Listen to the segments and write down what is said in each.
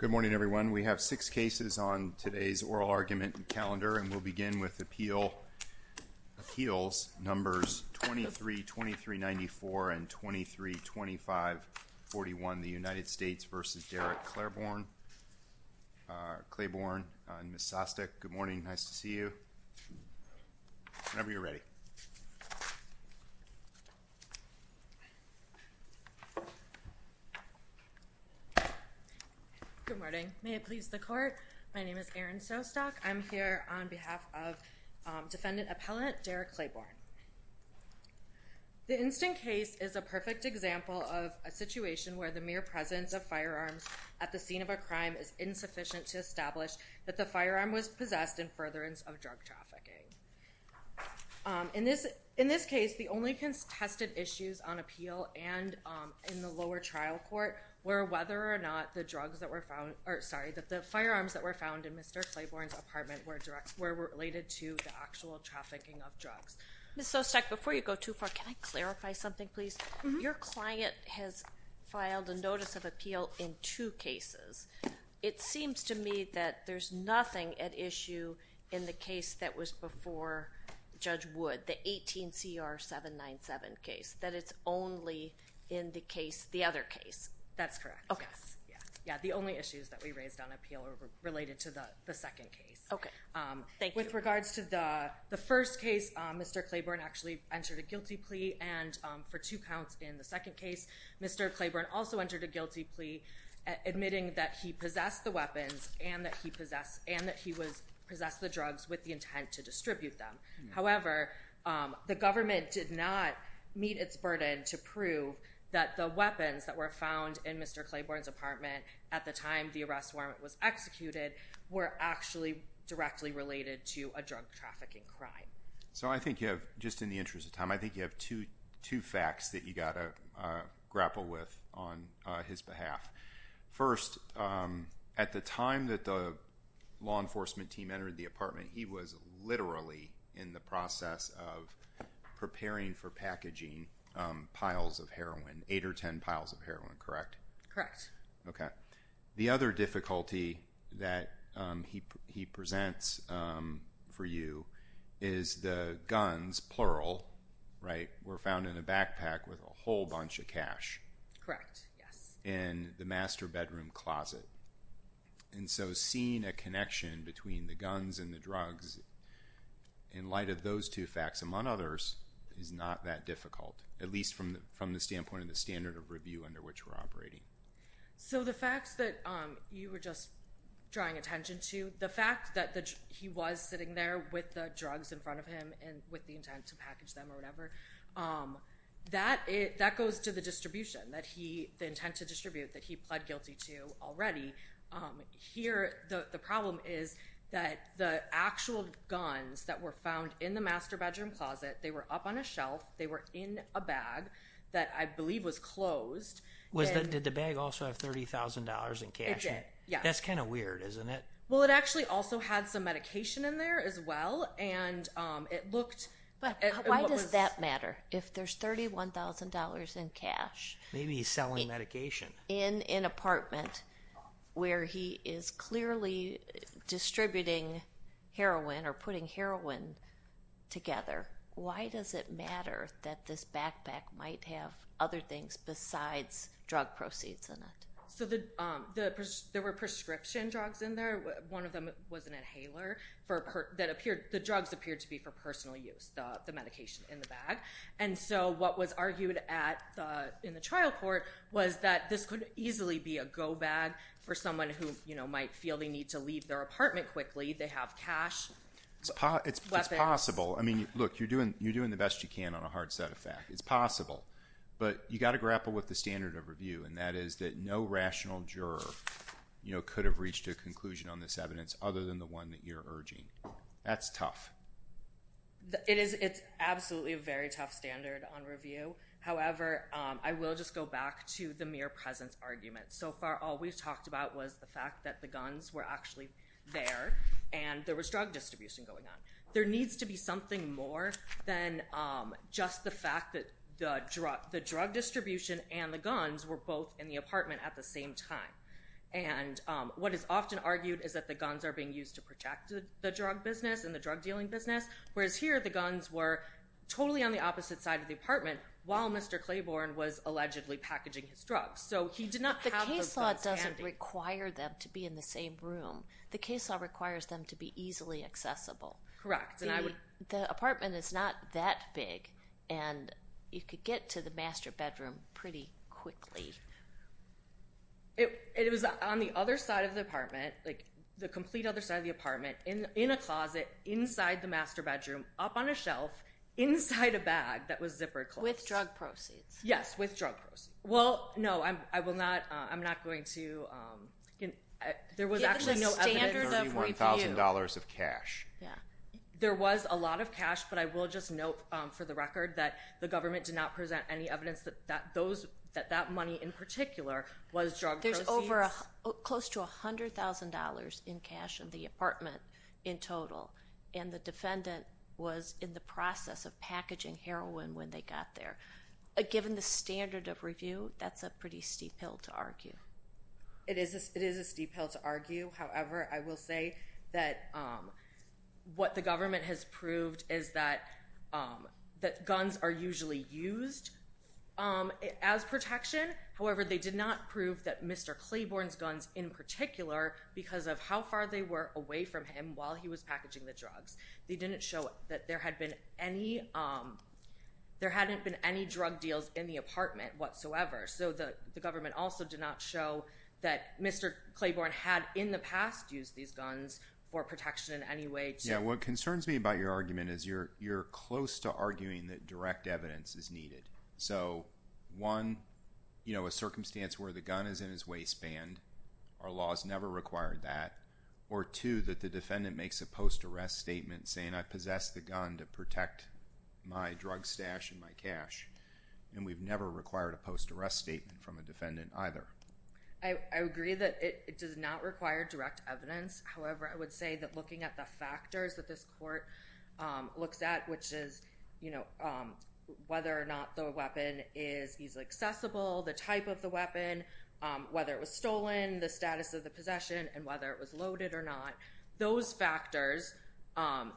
Good morning, everyone. We have six cases on today's oral argument calendar, and we'll begin with appeals numbers 23-2394 and 23-2541, the United States v. Derrick Claiborne and Ms. Sostek. Good morning. Nice to see you, whenever you're ready. Good morning. May it please the court, my name is Erin Sostek. I'm here on behalf of defendant appellant Derrick Claiborne. The instant case is a perfect example of a situation where the mere presence of firearms at the scene of a crime is insufficient to establish that the firearm was possessed in furtherance of drug trafficking. In this case, the only contested issues on appeal and in the lower trial court were whether or not the firearms that were found in Mr. Claiborne's apartment were related to the actual trafficking of drugs. Ms. Sostek, before you go too far, can I clarify something, please? Your client has filed a notice of appeal in two cases. It seems to me that there's nothing at issue in the case that was before Judge Wood, the 18CR 797 case, that it's only in the other case. That's correct. OK. Yeah, the only issues that we raised on appeal were related to the second case. OK, thank you. With regards to the first case, Mr. Claiborne actually entered a guilty plea. And for two counts in the second case, Mr. Claiborne also entered a guilty plea, admitting that he possessed the weapons and that he possessed the drugs with the intent to distribute them. However, the government did not meet its burden to prove that the weapons that were found in Mr. Claiborne's apartment at the time the arrest warrant was executed were actually directly related to a drug trafficking crime. So I think you have, just in the interest of time, I think you have two facts that you've got to grapple with on his behalf. First, at the time that the law enforcement team entered the apartment, he was literally in the process of preparing for packaging piles of heroin, eight or 10 piles of heroin, correct? Correct. OK. The other difficulty that he presents for you is the guns, plural, were found in a backpack with a whole bunch of cash. Correct, yes. In the master bedroom closet. And so seeing a connection between the guns and the drugs in light of those two facts, among others, is not that difficult, at least from the standpoint of the standard of review under which we're operating. So the facts that you were just drawing attention to, the fact that he was sitting there with the drugs in front of him and with the intent to package them or whatever, that goes to the distribution, the intent to distribute that he pled guilty to already. Here, the problem is that the actual guns that were found in the master bedroom closet, they were up on a shelf. They were in a bag that I believe was closed. Did the bag also have $30,000 in cash in it? It did, yes. That's kind of weird, isn't it? Well, it actually also had some medication in there as well. And it looked like it was. Why does that matter if there's $31,000 in cash? Maybe he's selling medication. In an apartment where he is clearly distributing heroin or putting heroin together, why does it matter that this backpack might have other things besides drug proceeds in it? So there were prescription drugs in there. One of them was an inhaler. The drugs appeared to be for personal use, the medication in the bag. And so what was argued in the trial court was that this could easily be a go-bag for someone who might feel they need to leave their apartment quickly. They have cash, weapons. It's possible. I mean, look, you're doing the best you can on a hard set of facts. It's possible. But you've got to grapple with the standard of review. And that is that no rational juror could have reached a conclusion on this evidence other than the one that you're urging. That's tough. It is absolutely a very tough standard on review. However, I will just go back to the mere presence argument. So far, all we've talked about was the fact that the guns were actually there and there was drug distribution going on. There needs to be something more than just the fact that the drug distribution and the guns were both in the apartment at the same time. And what is often argued is that the guns are being used to protect the drug business and the drug dealing business, whereas here, the guns were totally on the opposite side of the apartment while Mr. Claiborne was allegedly packaging his drugs. So he did not have those guns handy. The case law doesn't require them to be in the same room. The case law requires them to be easily accessible. Correct. The apartment is not that big. And you could get to the master bedroom pretty quickly. It was on the other side of the apartment, like the complete other side of the apartment, in a closet inside the master bedroom, up on a shelf inside a bag that was zippered closed. With drug proceeds. Yes, with drug proceeds. Well, no, I'm not going to. There was actually no evidence. Give us a standard of review. $31,000 of cash. There was a lot of cash, but I will just note for the record that the government did not present any evidence that that money in particular was drug proceeds. There's over close to $100,000 in cash in the apartment in total. And the defendant was in the process of packaging heroin when they got there. Given the standard of review, that's a pretty steep hill to argue. It is a steep hill to argue. However, I will say that what the government has proved is that guns are usually used as protection. However, they did not prove that Mr. Claiborne's guns in particular because of how far they were away from him while he was packaging the drugs. They didn't show that there hadn't been any drug deals in the apartment whatsoever. So the government also did not show that Mr. Claiborne had in the past used these guns for protection in any way. What concerns me about your argument is you're close to arguing that direct evidence is needed. So one, a circumstance where the gun is in his waistband. Our laws never required that. Or two, that the defendant makes a post-arrest statement saying I possess the gun to protect my drug stash and my cash. And we've never required a post-arrest statement from a defendant either. I agree that it does not require direct evidence. However, I would say that looking at the factors that this court looks at, which is whether or not the weapon is easily accessible, the type of the weapon, whether it was stolen, the status of the possession, and whether it was loaded or not, those factors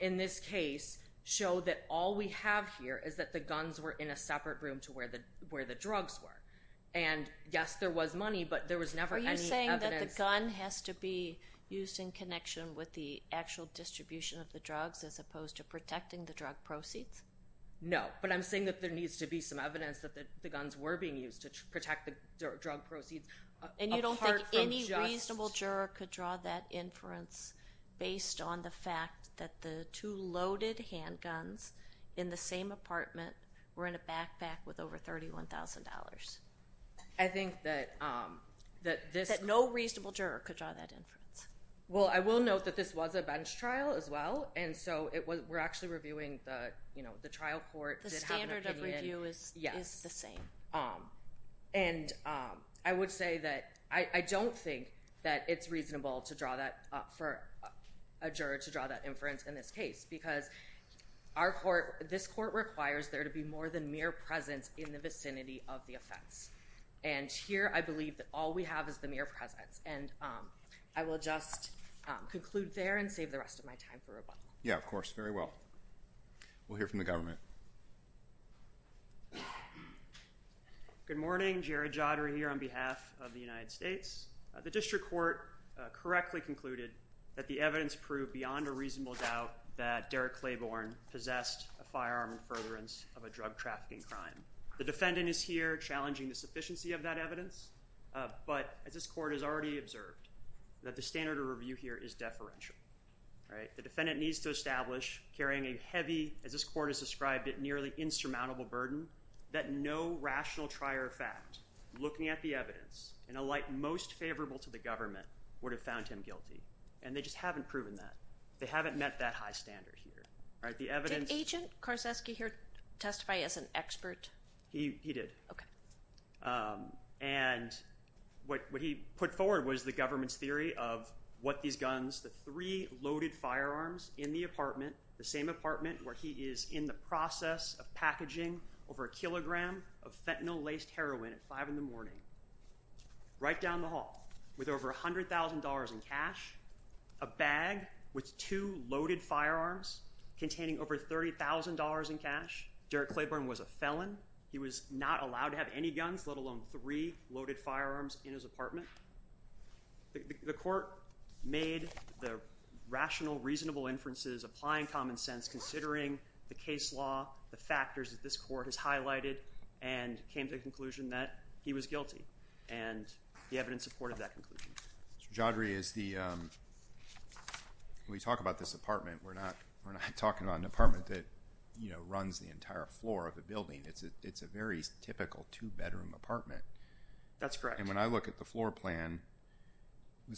in this case show that all we have here is that the guns were in a separate room to where the drugs were. And yes, there was money, but there was never any evidence. Are you saying that the gun has to be used in connection with the actual distribution of the drugs as opposed to protecting the drug proceeds? No, but I'm saying that there needs to be some evidence that the guns were being used to protect the drug proceeds. And you don't think any reasonable juror could draw that inference based on the fact that the two loaded handguns in the same apartment were in a backpack with over $31,000? I think that this- That no reasonable juror could draw that inference? Well, I will note that this was a bench trial as well, and so we're actually reviewing the trial court- The standard of review is the same. And I would say that I don't think that it's reasonable to draw that for a juror to draw that inference in this case because this court requires there to be more than mere presence in the vicinity of the offense. And here, I believe that all we have is the mere presence. And I will just conclude there and save the rest of my time for rebuttal. Yeah, of course. Very well. We'll hear from the government. Good morning. Jared Jodder here on behalf of the United States. The district court correctly concluded that the evidence proved beyond a reasonable doubt that Derek Claiborne possessed a firearm in furtherance of a drug-trafficking crime. The defendant is here challenging the sufficiency of that evidence, but as this court has already observed, that the standard of review here is deferential, right? The defendant needs to establish carrying a heavy, as this court has described it, nearly insurmountable burden that no rational trier of fact, looking at the evidence, in a light most favourable to the government, would have found him guilty. And they just haven't proven that. They haven't met that high standard here, right? The evidence... Did Agent Karczewski here testify as an expert? He did. OK. And what he put forward was the government's theory of what these guns, the three loaded firearms in the apartment, the same apartment where he is in the process of packaging over a kilogram of fentanyl-laced heroin at five in the morning, right down the hall, with over $100,000 in cash, a bag with two loaded firearms containing over $30,000 in cash. Derek Claiborne was a felon. He was not allowed to have any guns, let alone three loaded firearms in his apartment. The court made the rational, reasonable inferences, applying common sense, considering the case law, the factors that this court has highlighted, and came to the conclusion that he was guilty. And the evidence supported that conclusion. Mr. Jodry, as we talk about this apartment, we're not talking about an apartment that runs the entire floor of the building. It's a very typical two-bedroom apartment. That's correct. And when I look at the floor plan,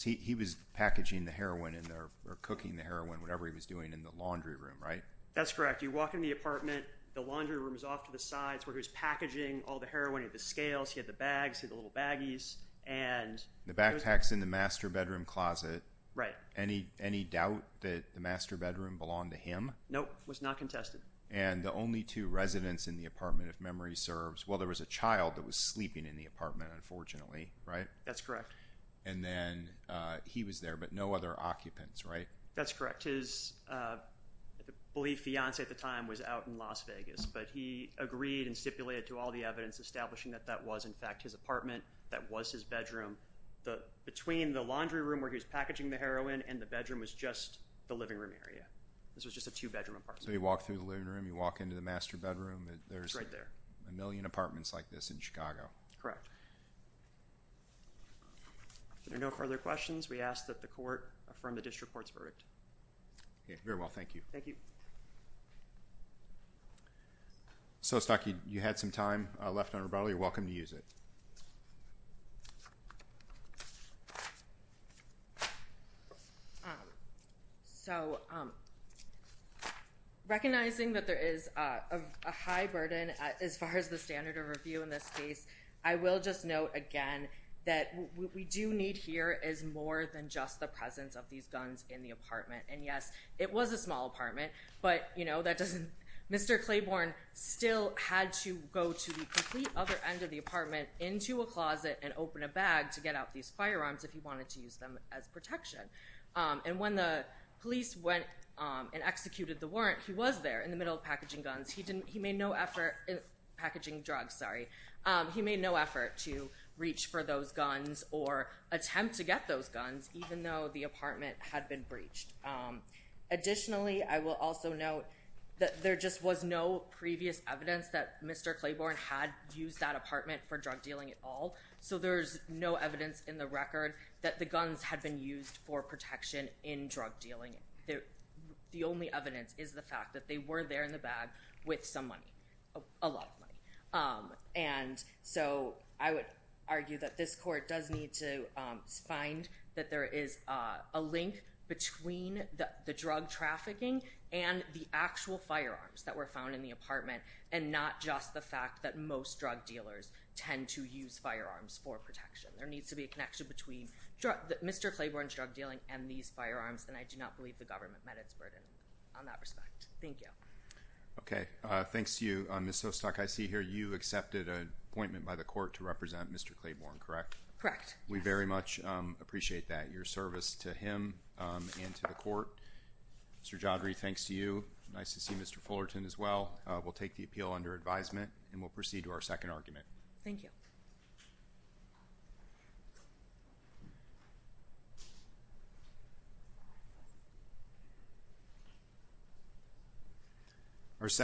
he was packaging the heroin in there, or cooking the heroin, whatever he was doing in the laundry room, right? That's correct. You walk into the apartment, the laundry room is off to the sides, where he was packaging all the heroin. He had the scales, he had the bags, he had the little baggies, and- The backpack's in the master bedroom closet. Right. Any doubt that the master bedroom belonged to him? Nope, was not contested. And the only two residents in the apartment, if memory serves, well, there was a child that was sleeping in the apartment, unfortunately, right? That's correct. And then he was there, but no other occupants, right? That's correct. His, I believe, fiance at the time was out in Las Vegas, but he agreed and stipulated to all the evidence establishing that that was, in fact, his apartment, that was his bedroom. Between the laundry room where he was packaging the heroin and the bedroom was just the living room area. This was just a two-bedroom apartment. So you walk through the living room, you walk into the master bedroom, there's a million apartments like this in Chicago. Correct. If there are no further questions, we ask that the court affirm the district court's verdict. Okay, very well, thank you. Thank you. So, Stockie, you had some time left on rebuttal. You're welcome to use it. So, recognizing that there is a high burden as far as the standard of review in this case, I will just note again that what we do need here is more than just the presence of these guns in the apartment. And yes, it was a small apartment, but Mr. Claiborne still had to go to the complete other end of the apartment into a closet and open a bag to get out these firearms if he wanted to use them as protection. And when the police went and executed the warrant, he was there in the middle of packaging guns. He made no effort, packaging drugs, sorry. He made no effort to reach for those guns or attempt to get those guns, even though the apartment had been breached. Additionally, I will also note that there just was no previous evidence that Mr. Claiborne had used that apartment for drug dealing at all. So, there's no evidence in the record that the guns had been used for protection in drug dealing. The only evidence is the fact that they were there in the bag with some money, a lot of money. And so, I would argue that this court does need to find that there is a link between the drug trafficking and the actual firearms that were found in the apartment, and not just the fact that most drug dealers tend to use firearms for protection. There needs to be a connection between Mr. Claiborne's drug dealing and these firearms, and I do not believe the government met its burden on that respect. Thank you. Okay, thanks to you, Ms. Hostock. I see here you accepted an appointment by the court to represent Mr. Claiborne, correct? Correct. We very much appreciate that, your service to him and to the court. Mr. Jodry, thanks to you. Nice to see Mr. Fullerton as well. We'll take the appeal under advisement, and we'll proceed to our second argument. Thank you.